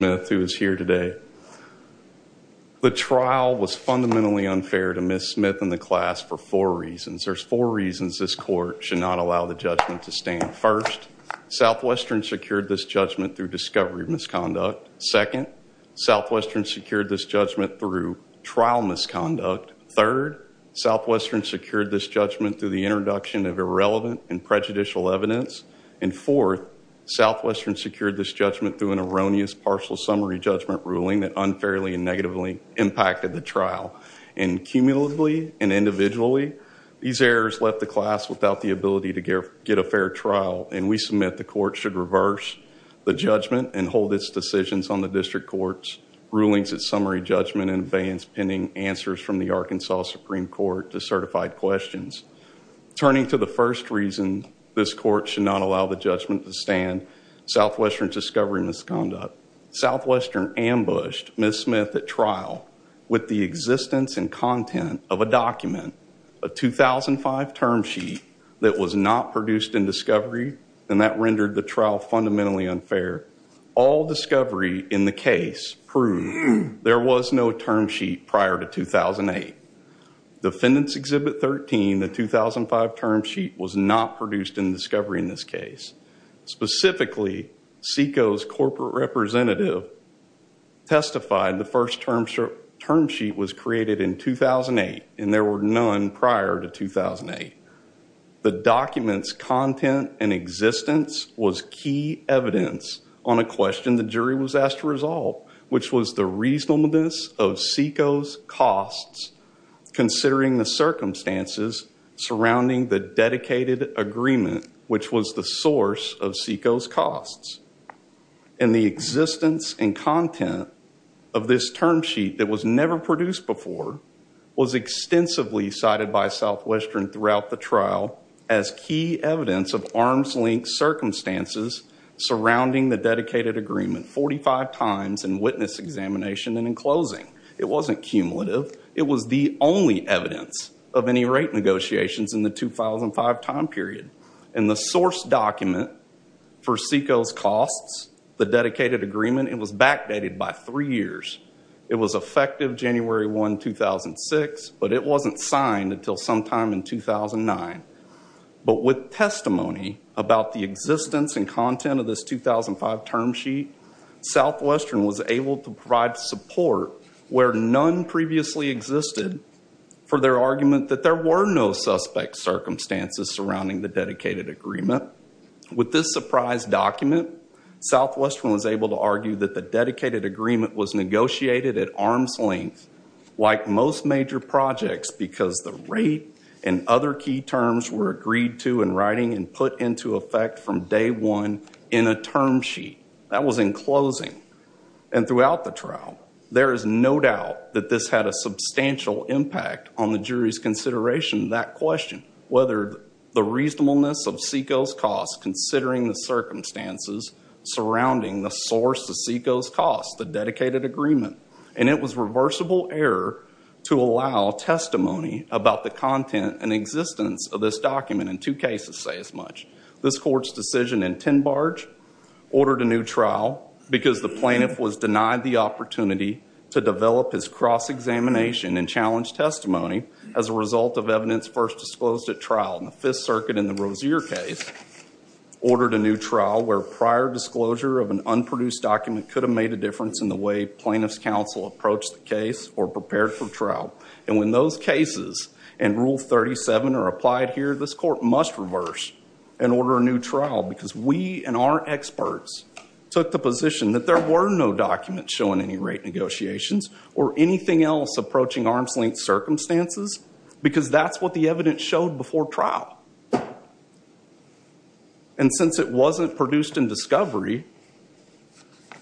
The trial was fundamentally unfair to Ms. Smith and the class for four reasons. There's four reasons this court should not allow the judgment to stand. First, Southwestern secured this judgment through discovery of misconduct. Second, Southwestern secured this judgment through trial misconduct. Third, Southwestern secured this judgment through the introduction of irrelevant and prejudicial evidence. And fourth, Southwestern secured this judgment through an erroneous partial summary judgment ruling that unfairly and negatively impacted the trial. And cumulatively and individually, these errors left the class without the ability to get a fair trial. And we submit the court should reverse the judgment and hold its decisions on the district court's rulings at summary judgment and abeyance pending answers from the Arkansas Supreme Court to certified questions. Turning to the first reason this court should not allow the judgment to stand, Southwestern's discovery of misconduct. Southwestern ambushed Ms. Smith at trial with the existence and content of a document, a 2005 term sheet, that was not produced in discovery and that rendered the trial fundamentally unfair. All discovery in the case proved there was no term sheet prior to 2008. Defendant's Exhibit 13, the 2005 term sheet, was not produced in discovery in this case. Specifically, SECO's corporate representative testified the first term sheet was created in 2008 and there were none prior to 2008. The document's content and existence was key evidence on a question the jury was asked to resolve, which was the reasonableness of SECO's costs considering the circumstances surrounding the dedicated agreement, which was the source of SECO's costs. And the existence and content of this term sheet that was never produced before was extensively cited by Southwestern throughout the trial as key evidence of arms-linked circumstances surrounding the dedicated agreement 45 times in witness examination and in closing. It wasn't cumulative. It was the only evidence of any rate negotiations in the 2005 time period. And the source document for SECO's costs, the dedicated agreement, it was backdated by three years. It was effective January 1, 2006, but it wasn't signed until sometime in 2009. But with testimony about the existence and content of this 2005 term sheet, Southwestern was able to provide support where none previously existed for their argument that there were no suspect circumstances surrounding the dedicated agreement. With this surprise document, Southwestern was able to argue that the dedicated agreement was negotiated at arm's length like most major projects because the rate and other key terms were agreed to in writing and put into effect from day one in a term sheet. That was in closing. And throughout the trial, there is no doubt that this had a substantial impact on the jury's consideration of that question, whether the reasonableness of SECO's costs considering the circumstances surrounding the source of SECO's costs, the dedicated agreement. And it was reversible error to allow testimony about the content and existence of this document in two cases say as much. This court's decision in Tinbarge ordered a new trial because the plaintiff was denied the opportunity to develop his cross-examination and challenge testimony as a result of evidence first disclosed at trial. And the Fifth Circuit in the Rozier case ordered a new trial where prior disclosure of an unproduced document could have made a difference in the way plaintiff's counsel approached the case or prepared for trial. And when those cases in Rule 37 are applied here, this court must reverse and order a new trial because we and our experts took the position that there were no documents showing any rate negotiations or anything else approaching arm's length circumstances because that's what the evidence showed before trial. And since it wasn't produced in discovery,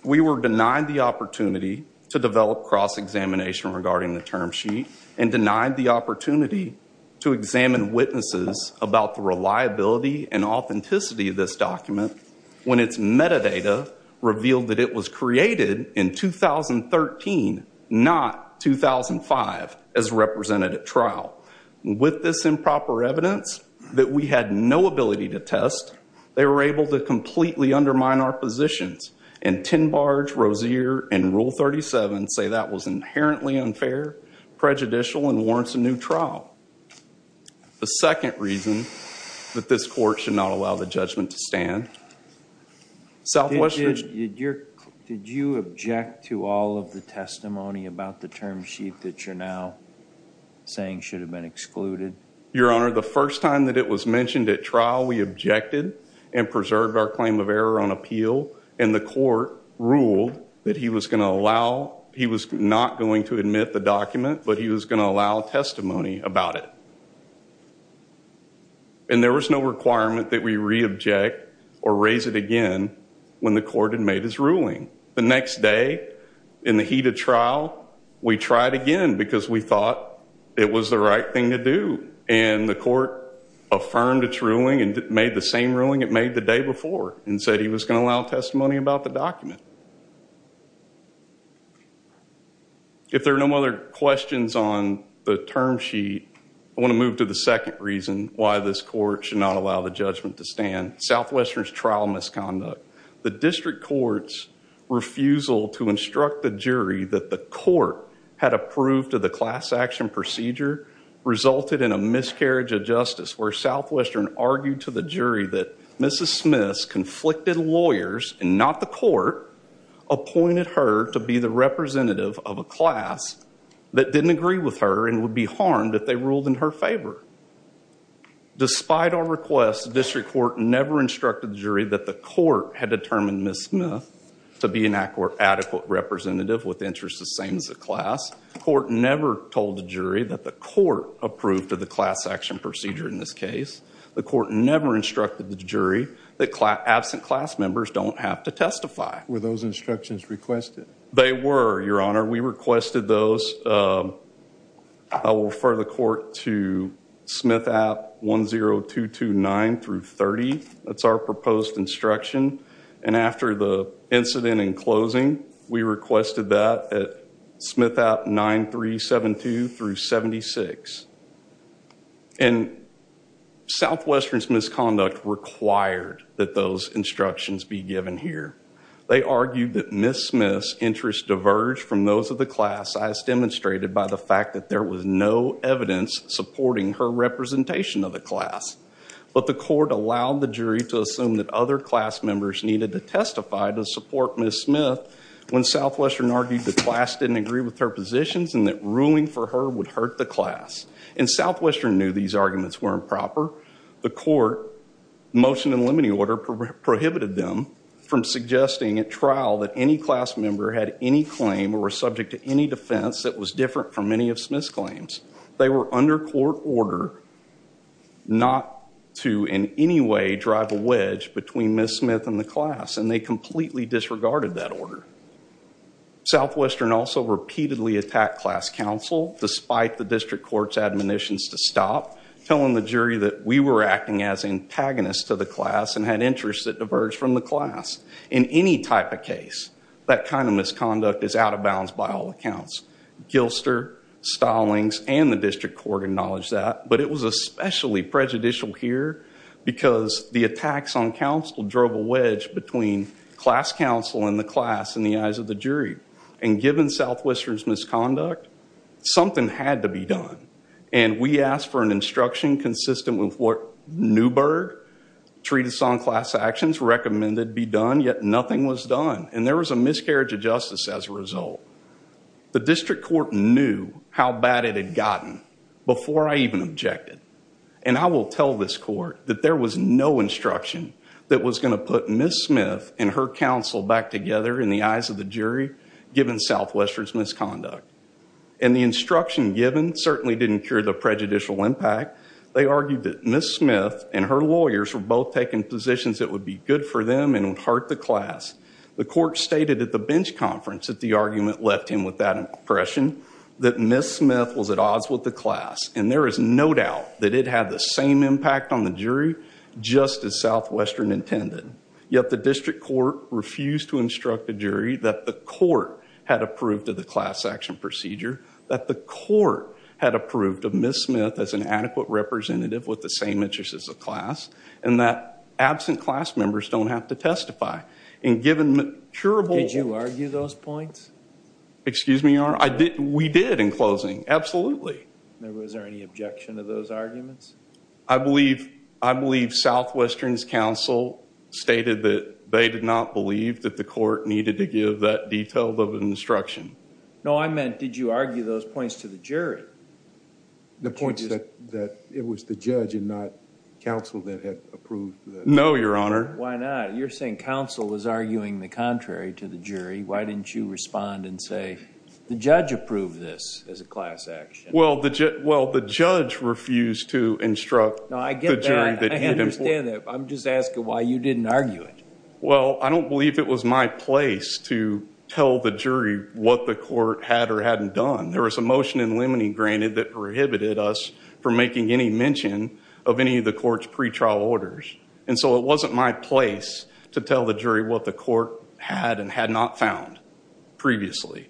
we were denied the opportunity to develop cross-examination regarding the term sheet and denied the opportunity to examine witnesses about the reliability and authenticity of this document when its metadata revealed that it was created in 2013, not 2005 as represented at trial. With this improper evidence that we had no ability to test, they were able to completely undermine our positions. And Tinbarge, Rozier, and Rule 37 say that was inherently unfair, prejudicial, and warrants a new trial. The second reason that this court should not allow the judgment to stand, Southwestern Did you object to all of the testimony about the term sheet that you're now saying should have been excluded? Your Honor, the first time that it was mentioned at trial, we objected and preserved our claim of error on appeal, and the court ruled that he was not going to admit the document, but he was going to allow testimony about it. And there was no requirement that we reobject or raise it again when the court had made his ruling. The next day, in the heat of trial, we tried again because we thought it was the right thing to do. And the court affirmed its ruling and made the same ruling it made the day before. And said he was going to allow testimony about the document. If there are no other questions on the term sheet, I want to move to the second reason why this court should not allow the judgment to stand. Southwestern's trial misconduct. The district court's refusal to instruct the jury that the court had approved of the class action procedure resulted in a miscarriage of justice where Southwestern argued to the lawyers, and not the court, appointed her to be the representative of a class that didn't agree with her and would be harmed if they ruled in her favor. Despite our request, the district court never instructed the jury that the court had determined Ms. Smith to be an adequate representative with interests the same as the class. Court never told the jury that the court approved of the class action procedure in this case. The court never instructed the jury that absent class members don't have to testify. Were those instructions requested? They were, your honor. We requested those. I will refer the court to Smith at 10229 through 30. That's our proposed instruction. And after the incident in closing, we requested that at Smith at 9372 through 76. And Southwestern's misconduct required that those instructions be given here. They argued that Ms. Smith's interests diverged from those of the class, as demonstrated by the fact that there was no evidence supporting her representation of the class. But the court allowed the jury to assume that other class members needed to testify to support Ms. Smith when Southwestern argued the class didn't agree with her positions and that ruling for her would hurt the class. And Southwestern knew these arguments were improper. The court motion in limine order prohibited them from suggesting at trial that any class member had any claim or were subject to any defense that was different from any of Smith's claims. They were under court order not to in any way drive a wedge between Ms. Smith and the class, and they completely disregarded that order. Southwestern also repeatedly attacked class counsel despite the district court's admonitions to stop, telling the jury that we were acting as antagonists to the class and had interests that diverged from the class. In any type of case, that kind of misconduct is out of bounds by all accounts. Gilster, Stallings, and the district court acknowledged that. But it was especially prejudicial here because the attacks on counsel drove a wedge between class counsel and the class in the eyes of the jury. And given Southwestern's misconduct, something had to be done. And we asked for an instruction consistent with what Newberg, Treatise on Class Actions, recommended be done, yet nothing was done. And there was a miscarriage of justice as a result. The district court knew how bad it had gotten before I even objected. And I will tell this court that there was no instruction that was going to put Ms. Smith and her counsel back together in the eyes of the jury, given Southwestern's misconduct. And the instruction given certainly didn't cure the prejudicial impact. They argued that Ms. Smith and her lawyers were both taking positions that would be good for them and would hurt the class. The court stated at the bench conference that the argument left him with that impression, that Ms. Smith was at odds with the class. And there is no doubt that it had the same impact on the jury, just as Southwestern intended. Yet the district court refused to instruct the jury that the court had approved of the class action procedure, that the court had approved of Ms. Smith as an adequate representative with the same interests as the class, and that absent class members don't have to testify. And given the curable- Did you argue those points? Excuse me, Your Honor? I did. We did in closing. Absolutely. Now, was there any objection to those arguments? I believe Southwestern's counsel stated that they did not believe that the court needed to give that detailed of an instruction. No, I meant, did you argue those points to the jury? The point is that it was the judge and not counsel that had approved the- No, Your Honor. Why not? You're saying counsel was arguing the contrary to the jury. Why didn't you respond and say, the judge approved this as a class action? Well, the judge refused to instruct- No, I get that. I understand that. I'm just asking why you didn't argue it. Well, I don't believe it was my place to tell the jury what the court had or hadn't done. There was a motion in limine granted that prohibited us from making any mention of any of the court's pretrial orders. And so it wasn't my place to tell the jury what the court had and had not found previously.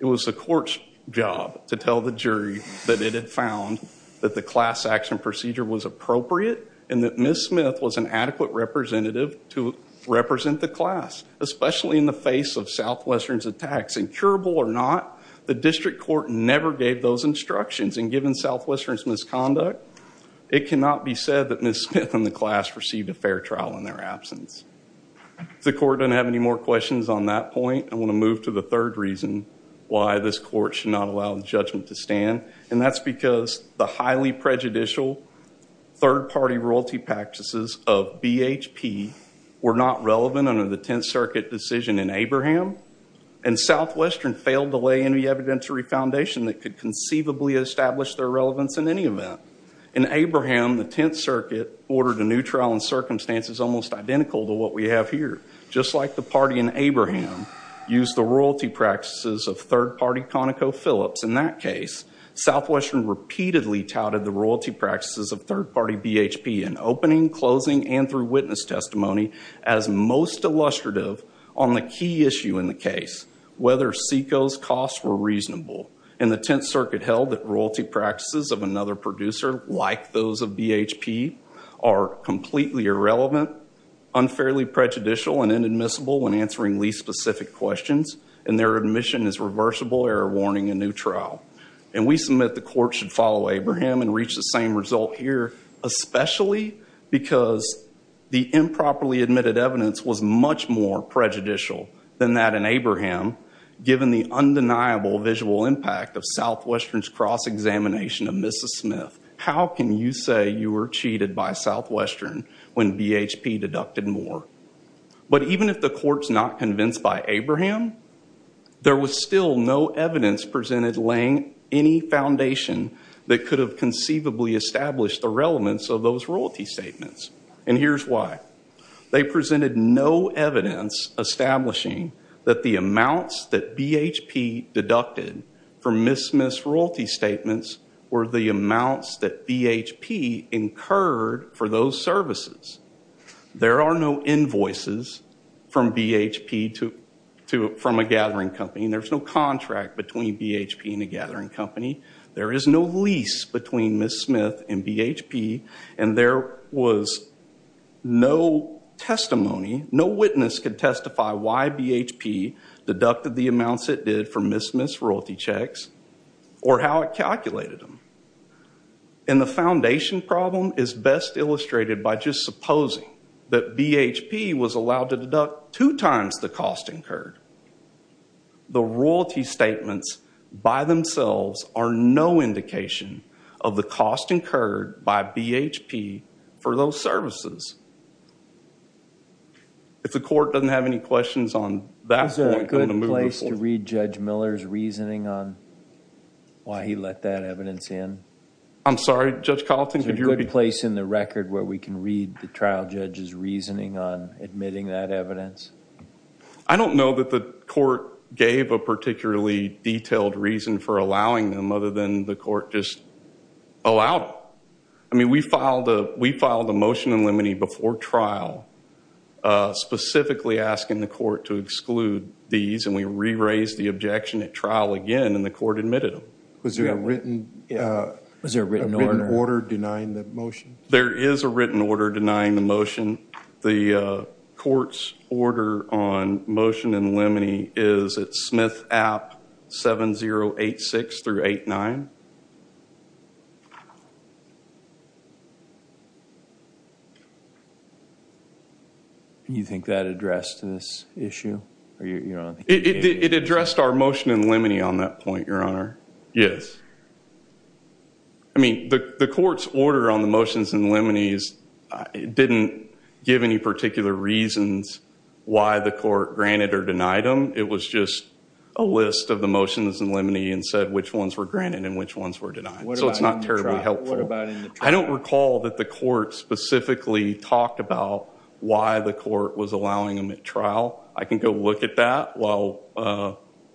It was the court's job to tell the jury that it had found that the class action procedure was appropriate and that Ms. Smith was an adequate representative to represent the class, especially in the face of Southwestern's attacks. And curable or not, the district court never gave those instructions. And given Southwestern's misconduct, it cannot be said that Ms. Smith and the class received a fair trial in their absence. If the court doesn't have any more questions on that point, I want to move to the third reason why this court should not allow the judgment to stand. And that's because the highly prejudicial third-party royalty practices of BHP were not relevant under the Tenth Circuit decision in Abraham, and Southwestern failed to lay any evidentiary foundation that could conceivably establish their relevance in any event. In Abraham, the Tenth Circuit ordered a new trial in circumstances almost identical to what we have here. Just like the party in Abraham used the royalty practices of third-party ConocoPhillips in that case, Southwestern repeatedly touted the royalty practices of third-party BHP in opening, closing, and through witness testimony as most illustrative on the key issue in the case, whether SECO's costs were reasonable. And the Tenth Circuit held that royalty practices of another producer, like those of BHP, are completely irrelevant, unfairly prejudicial, and inadmissible when answering least specific questions, and their admission is reversible, error-warning, and neutral. And we submit the court should follow Abraham and reach the same result here, especially because the improperly admitted evidence was much more prejudicial than that in Abraham, given the undeniable visual impact of Southwestern's cross-examination of Mrs. Smith. How can you say you were cheated by Southwestern when BHP deducted more? But even if the court's not convinced by Abraham, there was still no evidence presented laying any foundation that could have conceivably established the relevance of those royalty statements. And here's why. They presented no evidence establishing that the amounts that BHP deducted from Mrs. Smith's that BHP incurred for those services. There are no invoices from BHP from a gathering company. There's no contract between BHP and a gathering company. There is no lease between Mrs. Smith and BHP. And there was no testimony, no witness could testify why BHP deducted the amounts it did from Mrs. Smith's royalty checks, or how it calculated them. And the foundation problem is best illustrated by just supposing that BHP was allowed to deduct two times the cost incurred. The royalty statements, by themselves, are no indication of the cost incurred by BHP for those services. If the court doesn't have any questions on that point, I'm going to move this one. Is there a good place to read Judge Miller's reasoning on why he let that evidence in? I'm sorry, Judge Colleton? Is there a good place in the record where we can read the trial judge's reasoning on admitting that evidence? I don't know that the court gave a particularly detailed reason for allowing them, other than the court just allowed them. I mean, we filed a motion in limine before trial, specifically asking the court to exclude these. And we re-raised the objection at trial again. And the court admitted them. Was there a written order denying the motion? There is a written order denying the motion. The court's order on motion in limine is at Smith App 7086 through 89. You think that addressed this issue? It addressed our motion in limine on that point, Your Honor. Yes. I mean, the court's order on the motions in limine didn't give any particular reasons why the court granted or denied them. It was just a list of the motions in limine and said which ones were granted and which ones were denied. So it's not terribly helpful. I don't recall that the court specifically talked about why the court was allowing them at trial. I can go look at that while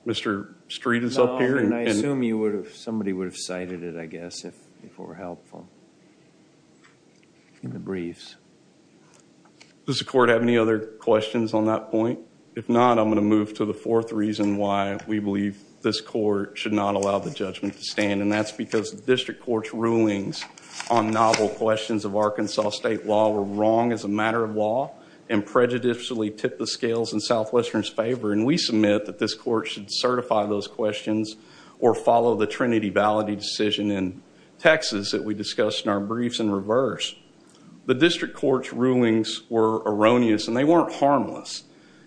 Mr. Street is up here. I assume somebody would have cited it, I guess, if it were helpful in the briefs. Does the court have any other questions on that point? If not, I'm going to move to the fourth reason why we believe this court should not allow the judgment to stand. And that's because the district court's rulings on novel questions of Arkansas state law were wrong as a matter of law and prejudicially tipped the scales in Southwestern's favor. And we submit that this court should certify those questions or follow the Trinity validity decision in Texas that we discussed in our briefs in reverse. The district court's rulings were erroneous and they weren't harmless.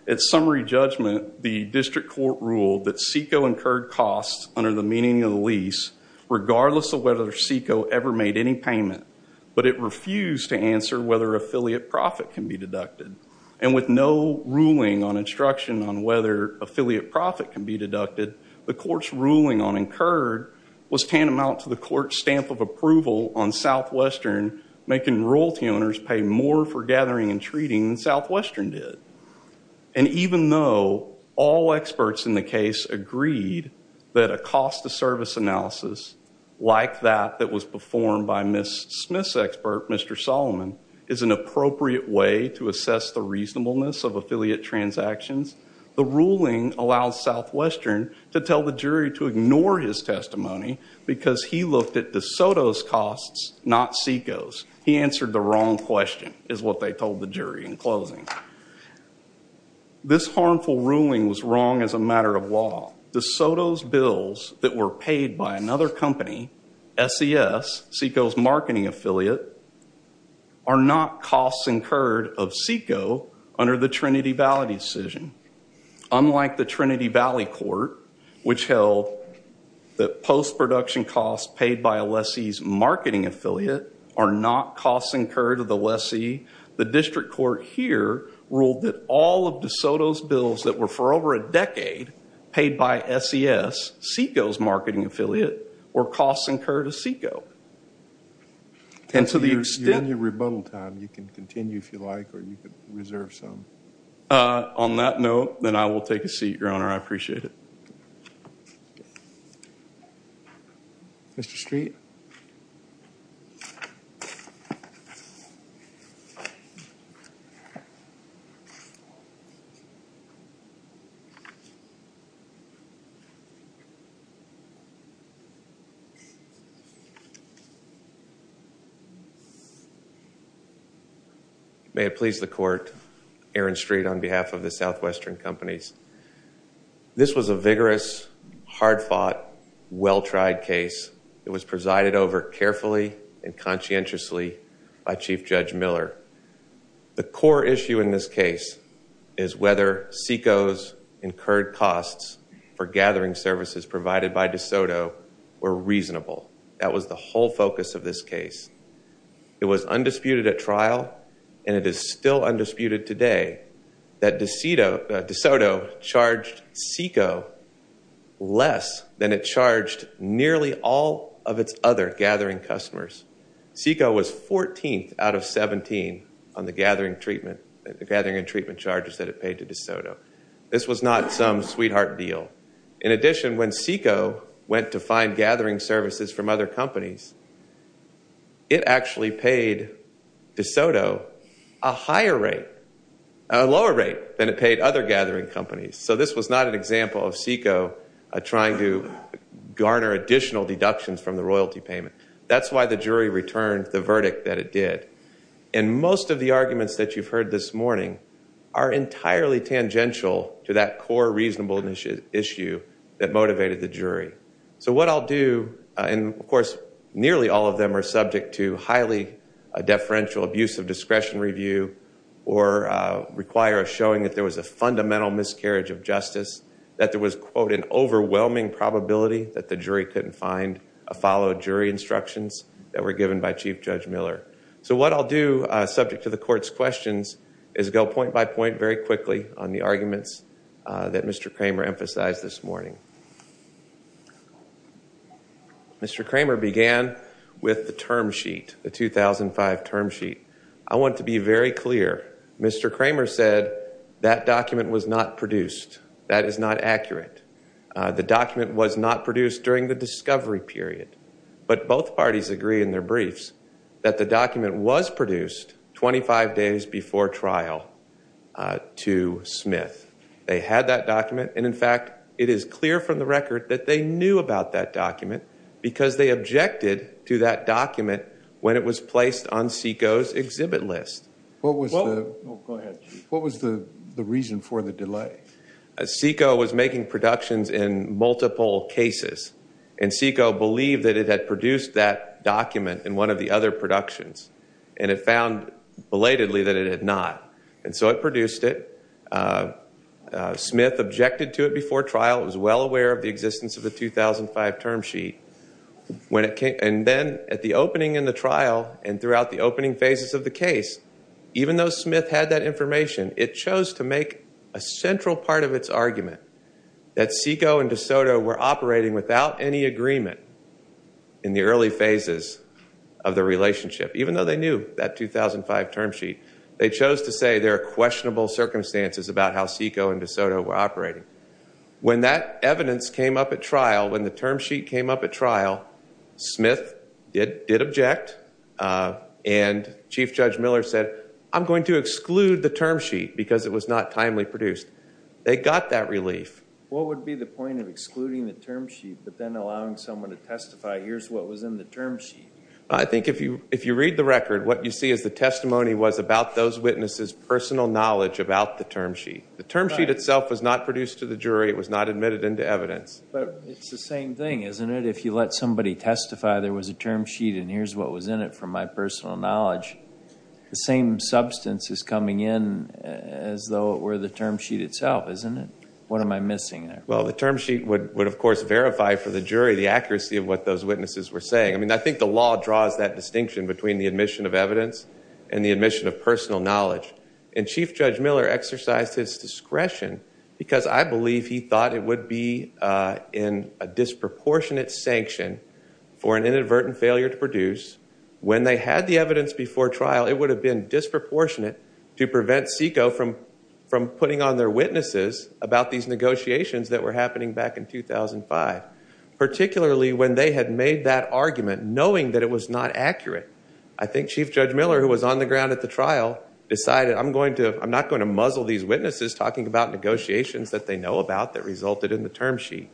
At summary judgment, the district court ruled that SECO incurred costs under the meaning of the lease regardless of whether SECO ever made any payment. But it refused to answer whether affiliate profit can be deducted. And with no ruling on instruction on whether affiliate profit can be deducted, the court's ruling on incurred was tantamount to the court's stamp of approval on Southwestern making royalty owners pay more for gathering and treating than Southwestern did. And even though all experts in the case agreed that a cost of service analysis like that that was performed by Ms. Smith's expert, Mr. Solomon, is an appropriate way to assess the reasonableness of affiliate transactions, the ruling allowed Southwestern to tell the jury to ignore his testimony because he looked at DeSoto's costs, not SECO's. He answered the wrong question is what they told the jury in closing. This harmful ruling was wrong as a matter of law. DeSoto's bills that were paid by another company, SES, SECO's marketing affiliate, are not costs incurred of SECO under the Trinity Valley decision. Unlike the Trinity Valley court, which held that post-production costs paid by a lessee's marketing affiliate are not costs incurred of the lessee, the district court here ruled that all of DeSoto's bills that were for over a decade paid by SES, SECO's marketing affiliate, were costs incurred of SECO. And to the extent- You're in your rebuttal time. You can continue if you like, or you can reserve some. On that note, then I will take a seat, Your Honor. I appreciate it. Mr. Street? May it please the court, Aaron Street on behalf of the Southwestern Companies. This was a vigorous, hard-fought, well-tried case. It was presided over carefully and conscientiously by Chief Judge Miller. The core issue in this case is whether SECO's incurred costs for gathering services provided by DeSoto were reasonable. That was the whole focus of this case. It was undisputed at trial, and it is still undisputed today, that DeSoto charged SECO less than it charged nearly all of its other gathering customers. SECO was 14th out of 17 on the gathering and treatment charges that it paid to DeSoto. This was not some sweetheart deal. In addition, when SECO went to find gathering services from other companies, it actually paid DeSoto a higher rate, a lower rate, than it paid other gathering companies. So this was not an example of SECO trying to garner additional deductions from the royalty payment. That's why the jury returned the verdict that it did. And most of the arguments that you've heard this morning are entirely tangential to that core reasonable issue that motivated the jury. So what I'll do, and of course nearly all of them are subject to highly deferential abuse of discretion review, or require a showing that there was a fundamental miscarriage of justice, that there was, quote, an overwhelming probability that the jury couldn't find a follow jury instructions that were given by Chief Judge Miller. So what I'll do, subject to the court's questions, is go point by point very quickly on the arguments that Mr. Kramer emphasized this morning. Mr. Kramer began with the term sheet, the 2005 term sheet. I want to be very clear. Mr. Kramer said that document was not produced. That is not accurate. The document was not produced during the discovery period. But both parties agree in their briefs that the document was produced 25 days before trial to Smith. They had that document. And in fact, it is clear from the record that they knew about that document because they objected to that document when it was placed on SECO's exhibit list. What was the reason for the delay? SECO was making productions in multiple cases. And SECO believed that it had produced that document in one of the other productions. And it found belatedly that it had not. And so it produced it. Smith objected to it before trial. It was well aware of the existence of the 2005 term sheet. And then at the opening in the trial and throughout the opening phases of the case, even though Smith had that information, it chose to make a central part of its argument that SECO and DeSoto were operating without any agreement in the early phases of the relationship. Even though they knew that 2005 term sheet, they chose to say there are questionable circumstances about how SECO and DeSoto were operating. When that evidence came up at trial, when the term sheet came up at trial, Smith did object. And Chief Judge Miller said, I'm going to exclude the term sheet because it was not timely produced. They got that relief. What would be the point of excluding the term sheet, but then allowing someone to testify, here's what was in the term sheet? I think if you read the record, what you see is the testimony was about those witnesses' personal knowledge about the term sheet. The term sheet itself was not produced to the jury. It was not admitted into evidence. But it's the same thing, isn't it? If you let somebody testify there was a term sheet, and here's what was in it from my personal knowledge, the same substance is coming in as though it were the term sheet itself, isn't it? What am I missing there? Well, the term sheet would, of course, verify for the jury, the accuracy of what those witnesses were saying. I mean, I think the law draws that distinction between the admission of evidence and the admission of personal knowledge. And Chief Judge Miller exercised his discretion because I believe he thought it would be in a disproportionate sanction for an inadvertent failure to produce. When they had the evidence before trial, it would have been disproportionate to prevent SECO from putting on their witnesses about these negotiations that were happening back in 2005, particularly when they had made that argument knowing that it was not accurate. I think Chief Judge Miller, who was on the ground at the trial, decided I'm not going to muzzle these witnesses talking about negotiations that they know about that resulted in the term sheet.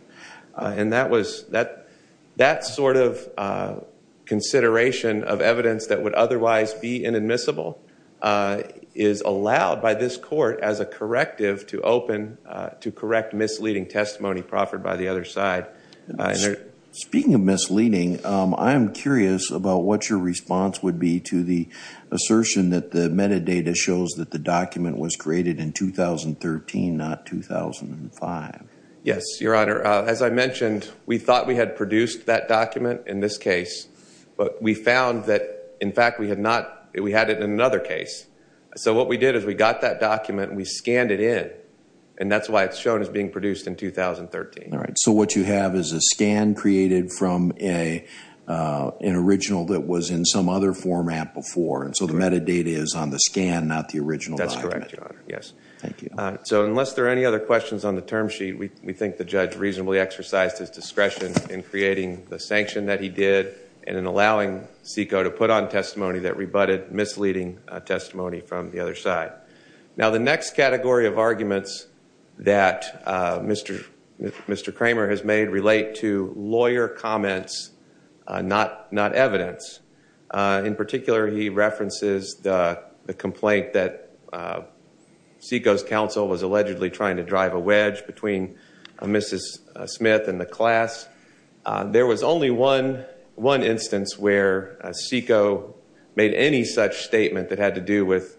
And that sort of consideration of evidence that would otherwise be inadmissible is allowed by this court as a corrective to open, to correct misleading testimony proffered by the other side. Speaking of misleading, I'm curious about what your response would be to the assertion that the metadata shows that the document was created in 2013, not 2005. Yes, Your Honor. As I mentioned, we thought we had produced that document in this case, but we found that, in fact, we had it in another case. So what we did is we got that document, we scanned it in, and that's why it's shown as being produced in 2013. All right. So what you have is a scan created from an original that was in some other format before, and so the metadata is on the scan, not the original document. That's correct, Your Honor. Yes. Thank you. So unless there are any other questions on the term sheet, we think the judge reasonably exercised his discretion in creating the sanction that he did and in allowing SECO to put on testimony that rebutted misleading testimony from the other side. Now, the next category of arguments that Mr. Kramer has made relate to lawyer comments, not evidence. In particular, he references the complaint that SECO's counsel was allegedly trying to drive a wedge between Mrs. Smith and the class. There was only one instance where SECO made any such statement that had to do with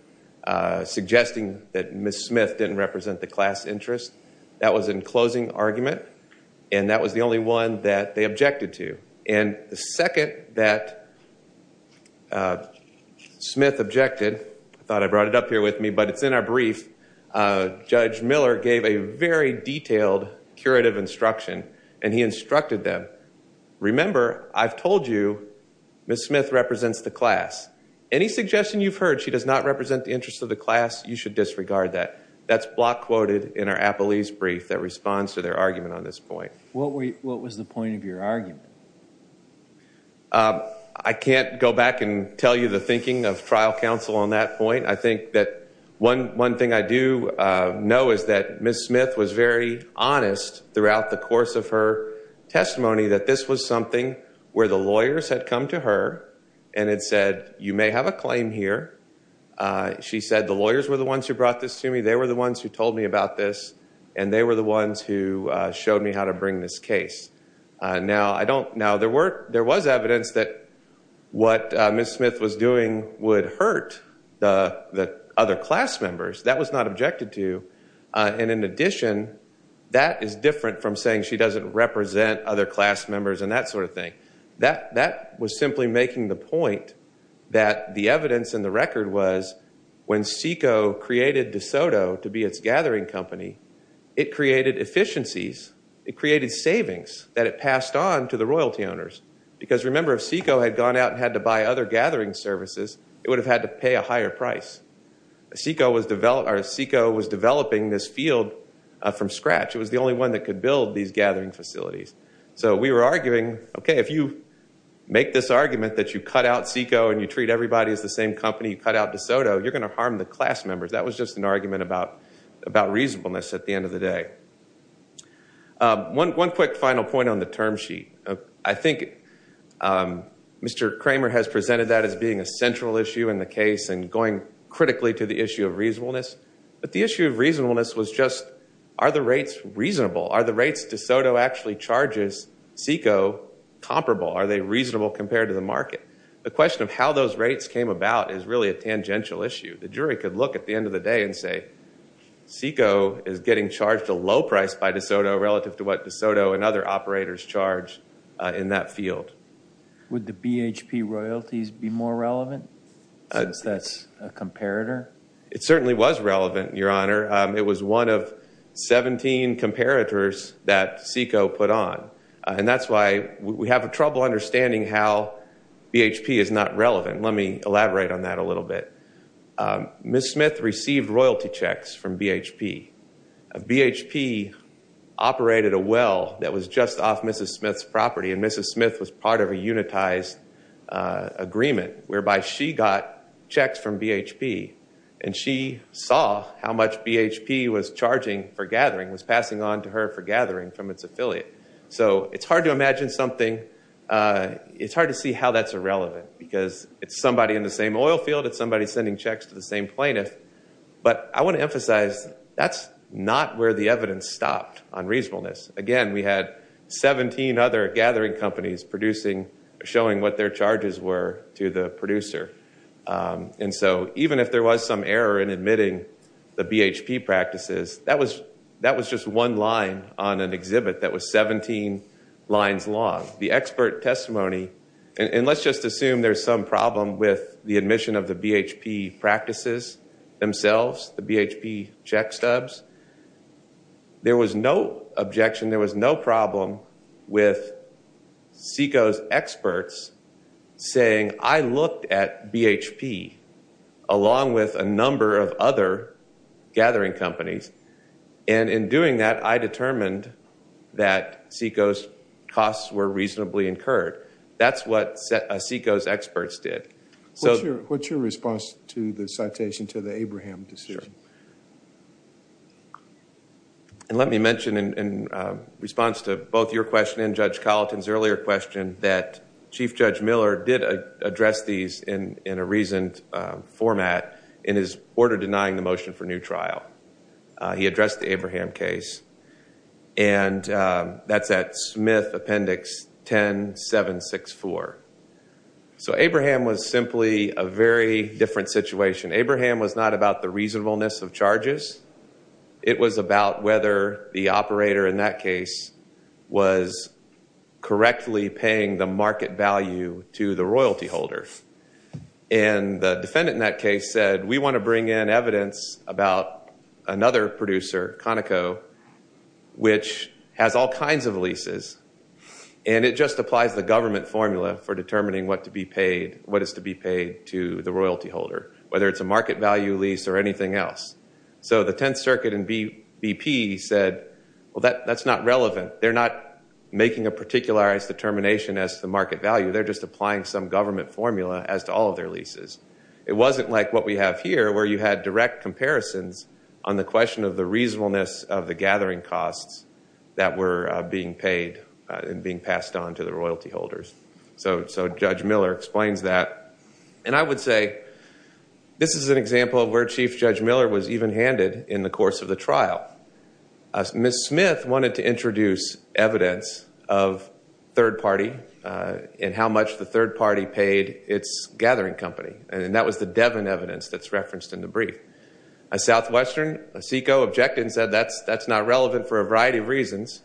suggesting that Ms. Smith didn't represent the class interest. That was in closing argument, and that was the only one that they objected to. And the second that Smith objected, I thought I brought it up here with me, but it's in our brief, Judge Miller gave a very detailed curative instruction, and he instructed them, remember, I've told you Ms. Smith represents the class. Any suggestion you've heard she does not represent the interest of the class, you should disregard that. That's block quoted in our appellees brief that responds to their argument on this point. What was the point of your argument? I can't go back and tell you the thinking of trial counsel on that point. I think that one thing I do know is that Ms. Smith was very honest throughout the course of her testimony that this was something where the lawyers had come to her and had said, you may have a claim here. She said, the lawyers were the ones who brought this to me. They were the ones who told me about this, and they were the ones who showed me how to bring this case. Now, there was evidence that what Ms. Smith was doing would hurt the other class members. That was not objected to. And in addition, that is different from saying she doesn't represent other class members and that sort of thing. That was simply making the point that the evidence in the record was when SECO created DeSoto to be its gathering company, it created efficiencies. It created savings that it passed on to the royalty owners. Because remember, if SECO had gone out and had to buy other gathering services, it would have had to pay a higher price. SECO was developing this field from scratch. It was the only one that could build these gathering facilities. So we were arguing, okay, if you make this argument that you cut out SECO and you treat everybody as the same company, you cut out DeSoto, you're going to harm the class members. That was just an argument about reasonableness at the end of the day. One quick final point on the term sheet. I think Mr. Kramer has presented that as being a central issue in the case and going critically to the issue of reasonableness. But the issue of reasonableness was just, are the rates reasonable? Are the rates DeSoto actually charges SECO comparable? Are they reasonable compared to the market? The question of how those rates came about is really a tangential issue. The jury could look at the end of the day and say, SECO is getting charged a low price by DeSoto relative to what DeSoto and other operators charge in that field. Would the BHP royalties be more relevant since that's a comparator? It certainly was relevant, Your Honor. It was one of 17 comparators that SECO put on. And that's why we have trouble understanding how BHP is not relevant. Let me elaborate on that a little bit. Ms. Smith received royalty checks from BHP. BHP operated a well that was just off Mrs. Smith's property. And Mrs. Smith was part of a unitized agreement whereby she got checks from BHP. And she saw how much BHP was charging for gathering, was passing on to her for gathering from its affiliate. So it's hard to imagine something. It's hard to see how that's irrelevant because it's somebody in the same oil field. It's somebody sending checks to the same plaintiff. But I want to emphasize that's not where the evidence stopped on reasonableness. Again, we had 17 other gathering companies producing, showing what their charges were to the producer. And so even if there was some error in admitting the BHP practices, that was just one line on an exhibit that was 17 lines long. The expert testimony, and let's just assume there's some problem with the admission of the BHP practices themselves, the BHP check stubs. There was no objection. There was no problem with SECO's experts saying, I looked at BHP along with a number of other gathering companies. And in doing that, I determined that SECO's costs were reasonably incurred. That's what SECO's experts did. So what's your response to the citation to the Abraham decision? And let me mention in response to both your question and Judge Colleton's earlier question that Chief Judge Miller did address these in a reasoned format in his order denying the motion for new trial. He addressed the Abraham case, and that's at Smith Appendix 10-764. So Abraham was simply a very different situation. Abraham was not about the reasonableness of charges. It was about whether the operator in that case was correctly paying the market value to the royalty holder. And the defendant in that case said, we want to bring in evidence about another producer, Conoco, which has all kinds of leases. And it just applies the government formula for determining what to be paid, what is to be paid to the royalty holder, whether it's a market value lease or anything else. So the Tenth Circuit and BP said, well, that's not relevant. They're not making a particularized determination as the market value. They're just applying some government formula as to all of their leases. It wasn't like what we have here where you had direct comparisons on the question of the reasonableness of the gathering costs that were being paid and being passed on to the royalty holders. So Judge Miller explains that. And I would say this is an example of where Chief Judge Miller was even-handed in the course of the trial. Ms. Smith wanted to introduce evidence of third party and how much the third party paid its gathering company. A Southwestern, a SECO objected and said that's not relevant for a variety of reasons.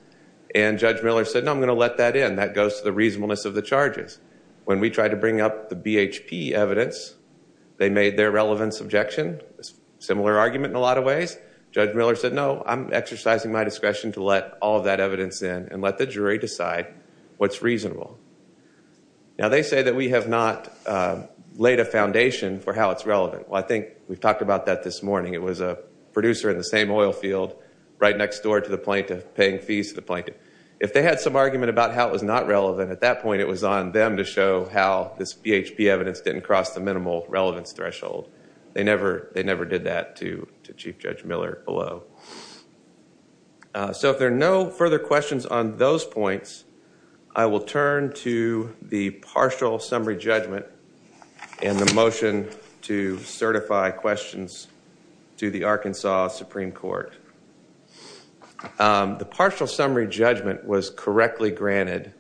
And Judge Miller said, no, I'm going to let that in. That goes to the reasonableness of the charges. When we tried to bring up the BHP evidence, they made their relevance objection, similar argument in a lot of ways. Judge Miller said, no, I'm exercising my discretion to let all of that evidence in and let the jury decide what's reasonable. Now, they say that we have not laid a foundation for how it's relevant. Well, I think we've talked about that this morning. It was a producer in the same oil field, right next door to the plaintiff, paying fees to the plaintiff. If they had some argument about how it was not relevant, at that point, it was on them to show how this BHP evidence didn't cross the minimal relevance threshold. They never did that to Chief Judge Miller below. So if there are no further questions on those points, I will turn to the partial summary judgment and the motion to certify questions to the Arkansas Supreme Court. The partial summary judgment was correctly granted,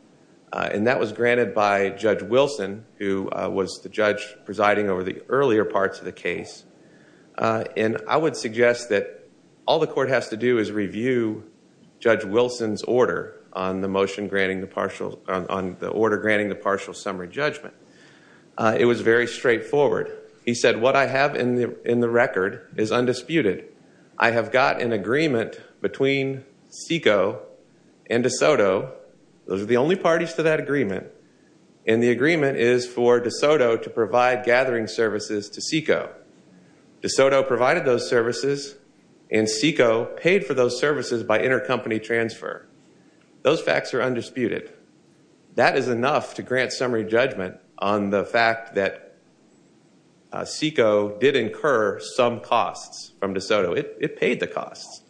and that was granted by Judge Wilson, who was the judge presiding over the earlier parts of the case. And I would suggest that all the court has to do is review Judge Wilson's order on the order granting the partial summary judgment. It was very straightforward. He said, what I have in the record is undisputed. I have got an agreement between SECO and DeSoto. Those are the only parties to that agreement, and the agreement is for DeSoto to provide gathering services to SECO. DeSoto provided those services, and SECO paid for those services by intercompany transfer. Those facts are undisputed. That is enough to grant summary judgment on the fact that SECO did incur some costs from DeSoto. It paid the costs.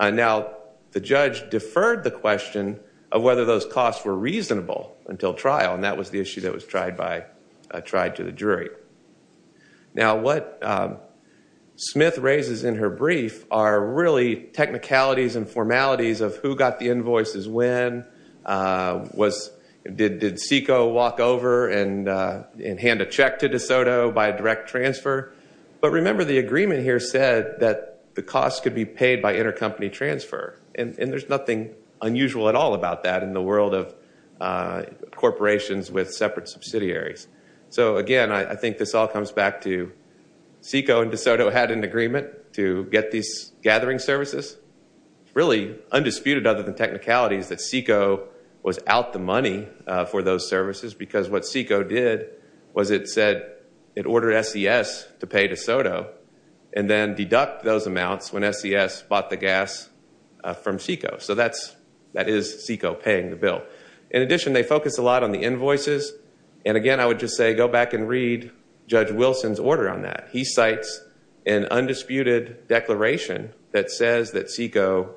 Now, the judge deferred the question of whether those costs were reasonable until trial, and that was the issue that was tried to the jury. Now, what Smith raises in her brief are really technicalities and formalities of who got the invoices when, did SECO walk over and hand a check to DeSoto by direct transfer? But remember, the agreement here said that the costs could be paid by intercompany transfer, and there's nothing unusual at all about that in the world of corporations with separate subsidiaries. So again, I think this all comes back to SECO and DeSoto had an agreement to get these gathering services. Really, undisputed other than technicalities, that SECO was out the money for those services, because what SECO did was it said it ordered SES to pay DeSoto, and then deduct those amounts when SES bought the gas from SECO. So that is SECO paying the bill. In addition, they focused a lot on the invoices, and again, I would just say go back and read Judge Wilson's order on that. He cites an undisputed declaration that says that SECO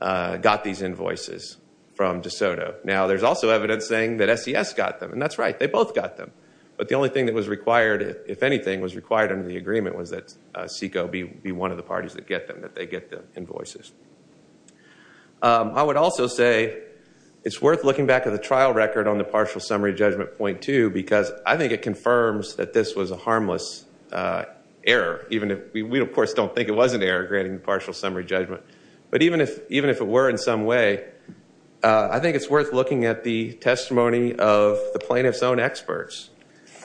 got these invoices from DeSoto. Now, there's also evidence saying that SES got them, and that's right. They both got them. But the only thing that was required, if anything, was required under the agreement was that SECO be one of the parties that get them, that they get the invoices. I would also say it's worth looking back at the trial record on the partial summary judgment point, too, because I think it confirms that this was a harmless error, even if we, of course, don't think it was an error granting the partial summary judgment. But even if it were in some way, I think it's worth looking at the testimony of the plaintiff's own experts.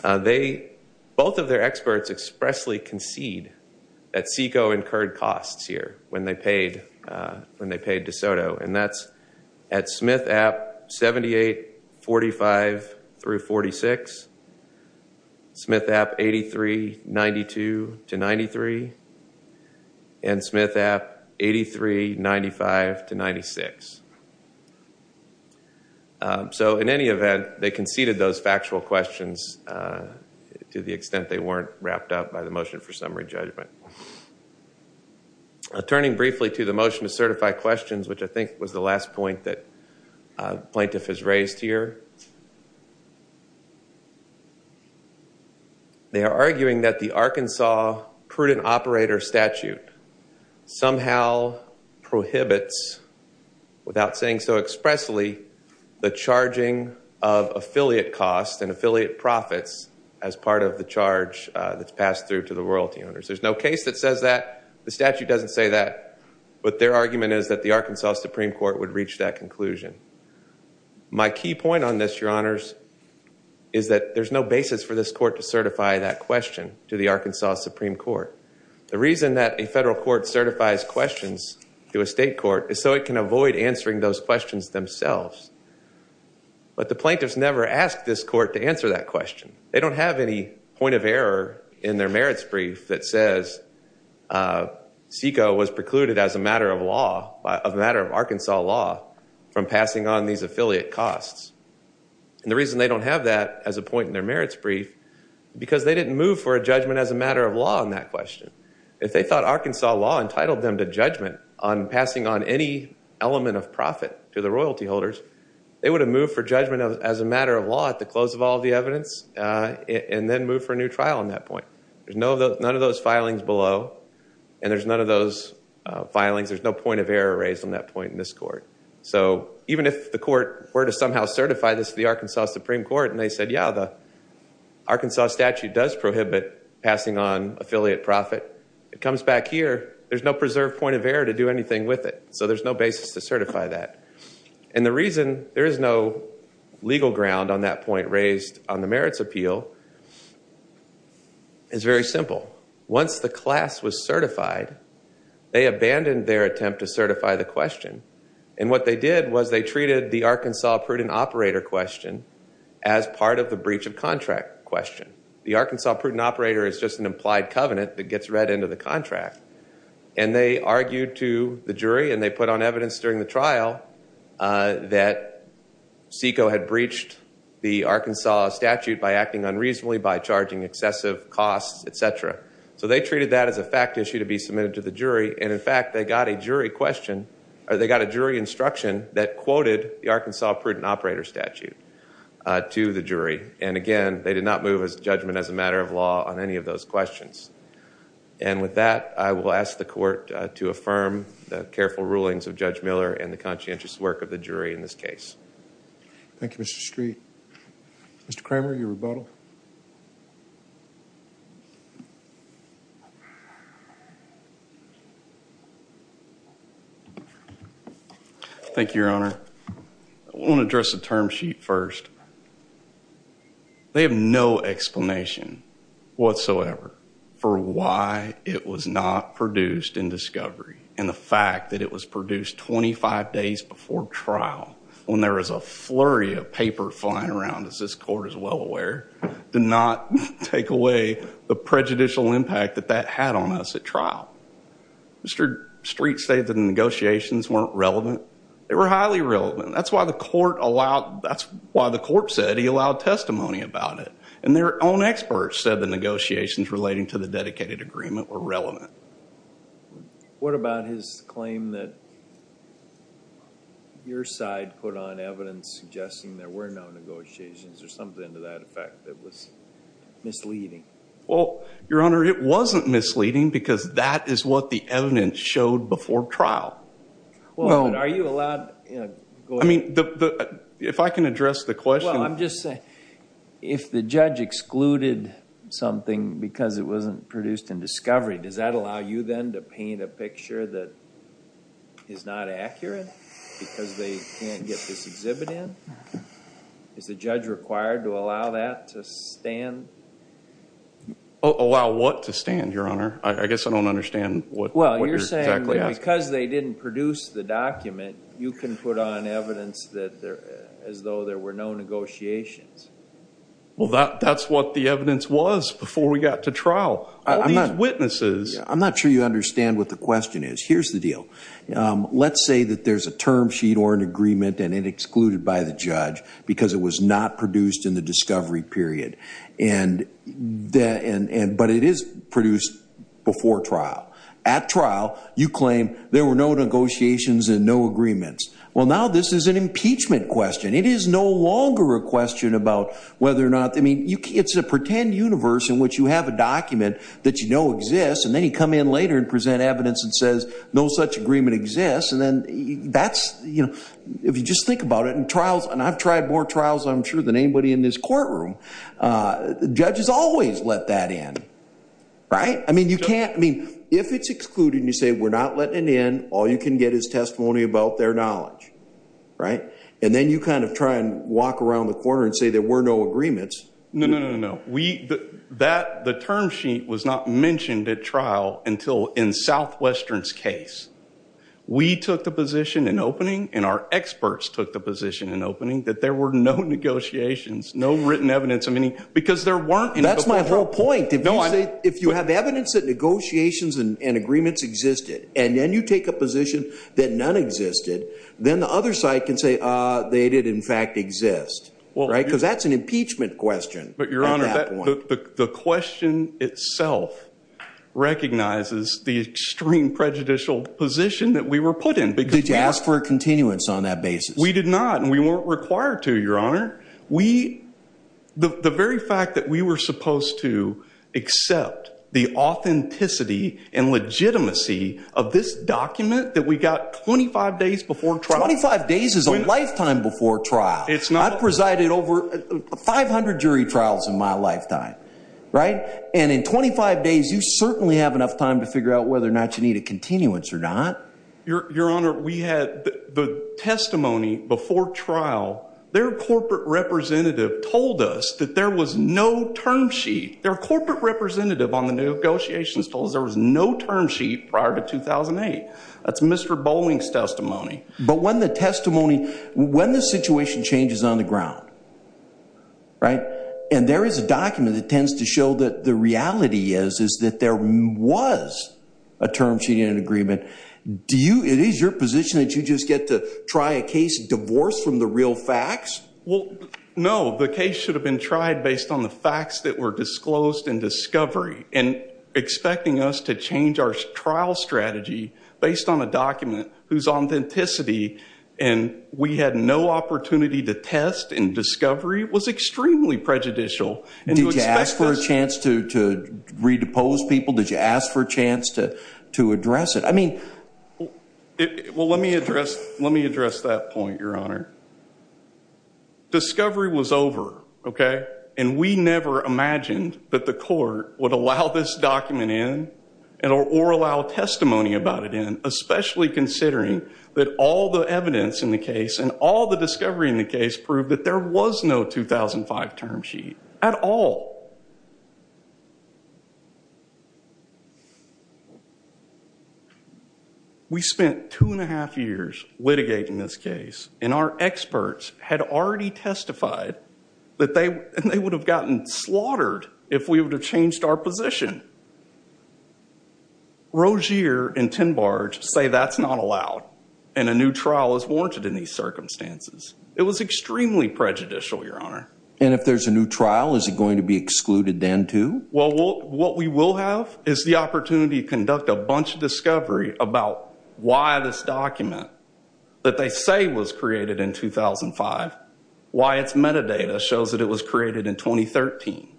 Both of their experts expressly concede that SECO incurred costs here when they paid DeSoto, and that's at Smith App 7845-46, Smith App 8392-93, and Smith App 8395-96. So in any event, they conceded those factual questions to the extent they weren't wrapped up by the motion for summary judgment. I'm turning briefly to the motion to certify questions, which I think was the last point that the plaintiff has raised here. They are arguing that the Arkansas Prudent Operator Statute somehow prohibits, without saying so expressly, the charging of affiliate costs and affiliate profits as part of the charge that's passed through to the royalty owners. There's no case that says that. The statute doesn't say that. But their argument is that the Arkansas Supreme Court would reach that conclusion. My key point on this, your honors, is that there's no basis for this court to certify that question to the Arkansas Supreme Court. The reason that a federal court certifies questions to a state court is so it can avoid answering those questions themselves. But the plaintiffs never ask this court to answer that question. They don't have any point of error in their merits brief that says SECO was precluded as a matter of Arkansas law from passing on these affiliate costs. And the reason they don't have that as a point in their merits brief because they didn't move for a judgment as a matter of law on that question. If they thought Arkansas law entitled them to judgment on passing on any element of profit to the royalty holders, they would have moved for judgment as a matter of law at the close of all the evidence. And then move for a new trial on that point. There's none of those filings below. And there's none of those filings. There's no point of error raised on that point in this court. So even if the court were to somehow certify this to the Arkansas Supreme Court, and they said, yeah, the Arkansas statute does prohibit passing on affiliate profit. It comes back here. There's no preserved point of error to do anything with it. So there's no basis to certify that. And the reason there is no legal ground on that point raised on the merits appeal is very simple. Once the class was certified, they abandoned their attempt to certify the question. And what they did was they treated the Arkansas prudent operator question as part of the breach of contract question. The Arkansas prudent operator is just an implied covenant that gets read into the contract. And they argued to the jury and they put on evidence during the trial that SECO had breached the Arkansas statute by acting unreasonably, by charging excessive costs, etc. So they treated that as a fact issue to be submitted to the jury. And in fact, they got a jury question, or they got a jury instruction that quoted the Arkansas prudent operator statute to the jury. And again, they did not move his judgment as a matter of law on any of those questions. And with that, I will ask the court to affirm the careful rulings of Judge Miller and the conscientious work of the jury in this case. Thank you, Mr. Street. Mr. Kramer, your rebuttal. Thank you, Your Honor. I want to address the term sheet first. They have no explanation whatsoever. For why it was not produced in discovery. And the fact that it was produced 25 days before trial, when there was a flurry of paper flying around, as this court is well aware, did not take away the prejudicial impact that that had on us at trial. Mr. Street said the negotiations weren't relevant. They were highly relevant. That's why the court allowed, that's why the court said he allowed testimony about it. And their own experts said the negotiations relating to the dedicated agreement were relevant. What about his claim that your side put on evidence suggesting there were no negotiations or something to that effect that was misleading? Well, Your Honor, it wasn't misleading because that is what the evidence showed before trial. Well, are you allowed, you know, go ahead. I mean, if I can address the question. I'm just saying, if the judge excluded something because it wasn't produced in discovery, does that allow you then to paint a picture that is not accurate? Because they can't get this exhibit in? Is the judge required to allow that to stand? Allow what to stand, Your Honor? I guess I don't understand what you're exactly asking. Well, you're saying because they didn't produce the document, you can put on evidence that there, as though there were no negotiations. Well, that's what the evidence was before we got to trial. All these witnesses. I'm not sure you understand what the question is. Here's the deal. Let's say that there's a term sheet or an agreement and it excluded by the judge because it was not produced in the discovery period. But it is produced before trial. At trial, you claim there were no negotiations and no agreements. Well, now this is an impeachment question. It is no longer a question about whether or not. I mean, it's a pretend universe in which you have a document that you know exists. And then you come in later and present evidence that says no such agreement exists. And then that's, you know, if you just think about it in trials. And I've tried more trials, I'm sure, than anybody in this courtroom. Judges always let that in, right? You can't, I mean, if it's excluded and you say we're not letting it in, all you can get is testimony about their knowledge, right? And then you kind of try and walk around the corner and say there were no agreements. No, no, no, no. The term sheet was not mentioned at trial until in Southwestern's case. We took the position in opening and our experts took the position in opening that there were no negotiations, no written evidence of any, because there weren't. That's my whole point. If you say, if you have evidence that negotiations and agreements existed, and then you take a position that none existed, then the other side can say they did in fact exist, right? Because that's an impeachment question. But your honor, the question itself recognizes the extreme prejudicial position that we were put in. Did you ask for a continuance on that basis? We did not, and we weren't required to, your honor. We, the very fact that we were supposed to accept the authenticity and legitimacy of this document that we got 25 days before trial. 25 days is a lifetime before trial. It's not. I've presided over 500 jury trials in my lifetime, right? And in 25 days, you certainly have enough time to figure out whether or not you need a continuance or not. Your honor, we had the testimony before trial. Their corporate representative told us that there was no term sheet. Their corporate representative on the new negotiations told us there was no term sheet prior to 2008. That's Mr. Bowling's testimony. But when the testimony, when the situation changes on the ground, right? And there is a document that tends to show that the reality is, is that there was a term sheet in an agreement. It is your position that you just get to try a case, divorce from the real facts? Well, no, the case should have been tried based on the facts that were disclosed in discovery. And expecting us to change our trial strategy based on a document whose authenticity, and we had no opportunity to test in discovery, was extremely prejudicial. Did you ask for a chance to, to redepose people? Did you ask for a chance to, to address it? I mean, well, let me address, let me address that point, your honor. Discovery was over, okay? And we never imagined that the court would allow this document in, or allow testimony about it in, especially considering that all the evidence in the case, and all the discovery in the case, proved that there was no 2005 term sheet at all. We spent two and a half years litigating this case, and our experts had already testified that they, and they would have gotten slaughtered if we would have changed our position. Rozier and Tinbarge say that's not allowed, and a new trial is warranted in these circumstances. It was extremely prejudicial, your honor. And if there's a new trial, is it going to be excluded then too? Well, what we will have is the opportunity to conduct a bunch of discovery about why this document, that they say was created in 2005, why its metadata shows that it was created in 2013.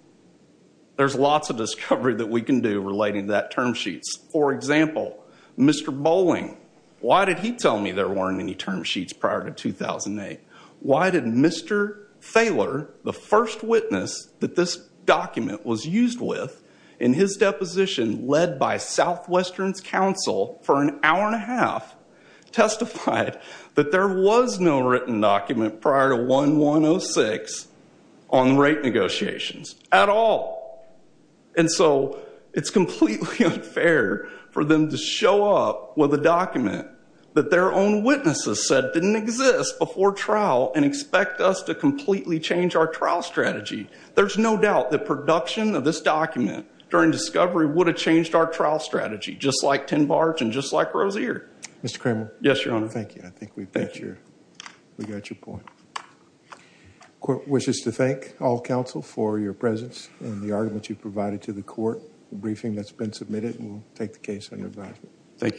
There's lots of discovery that we can do relating to that term sheets. For example, Mr. Bolling, why did he tell me there weren't any term sheets prior to 2008? Why did Mr. Thaler, the first witness that this document was used with, in his deposition led by Southwestern's counsel for an hour and a half, testified that there was no written document prior to 1-106 on rate negotiations at all? And so it's completely unfair for them to show up with a document that their own witnesses said didn't exist before trial and expect us to completely change our trial strategy. There's no doubt that production of this document during discovery would have changed our trial strategy, just like Tinbarge and just like Rozier. Mr. Cramer. Yes, your honor. Thank you. I think we've got your point. Court wishes to thank all counsel for your presence and the argument you provided to the court. The briefing that's been submitted will take the case under advisement. Thank you.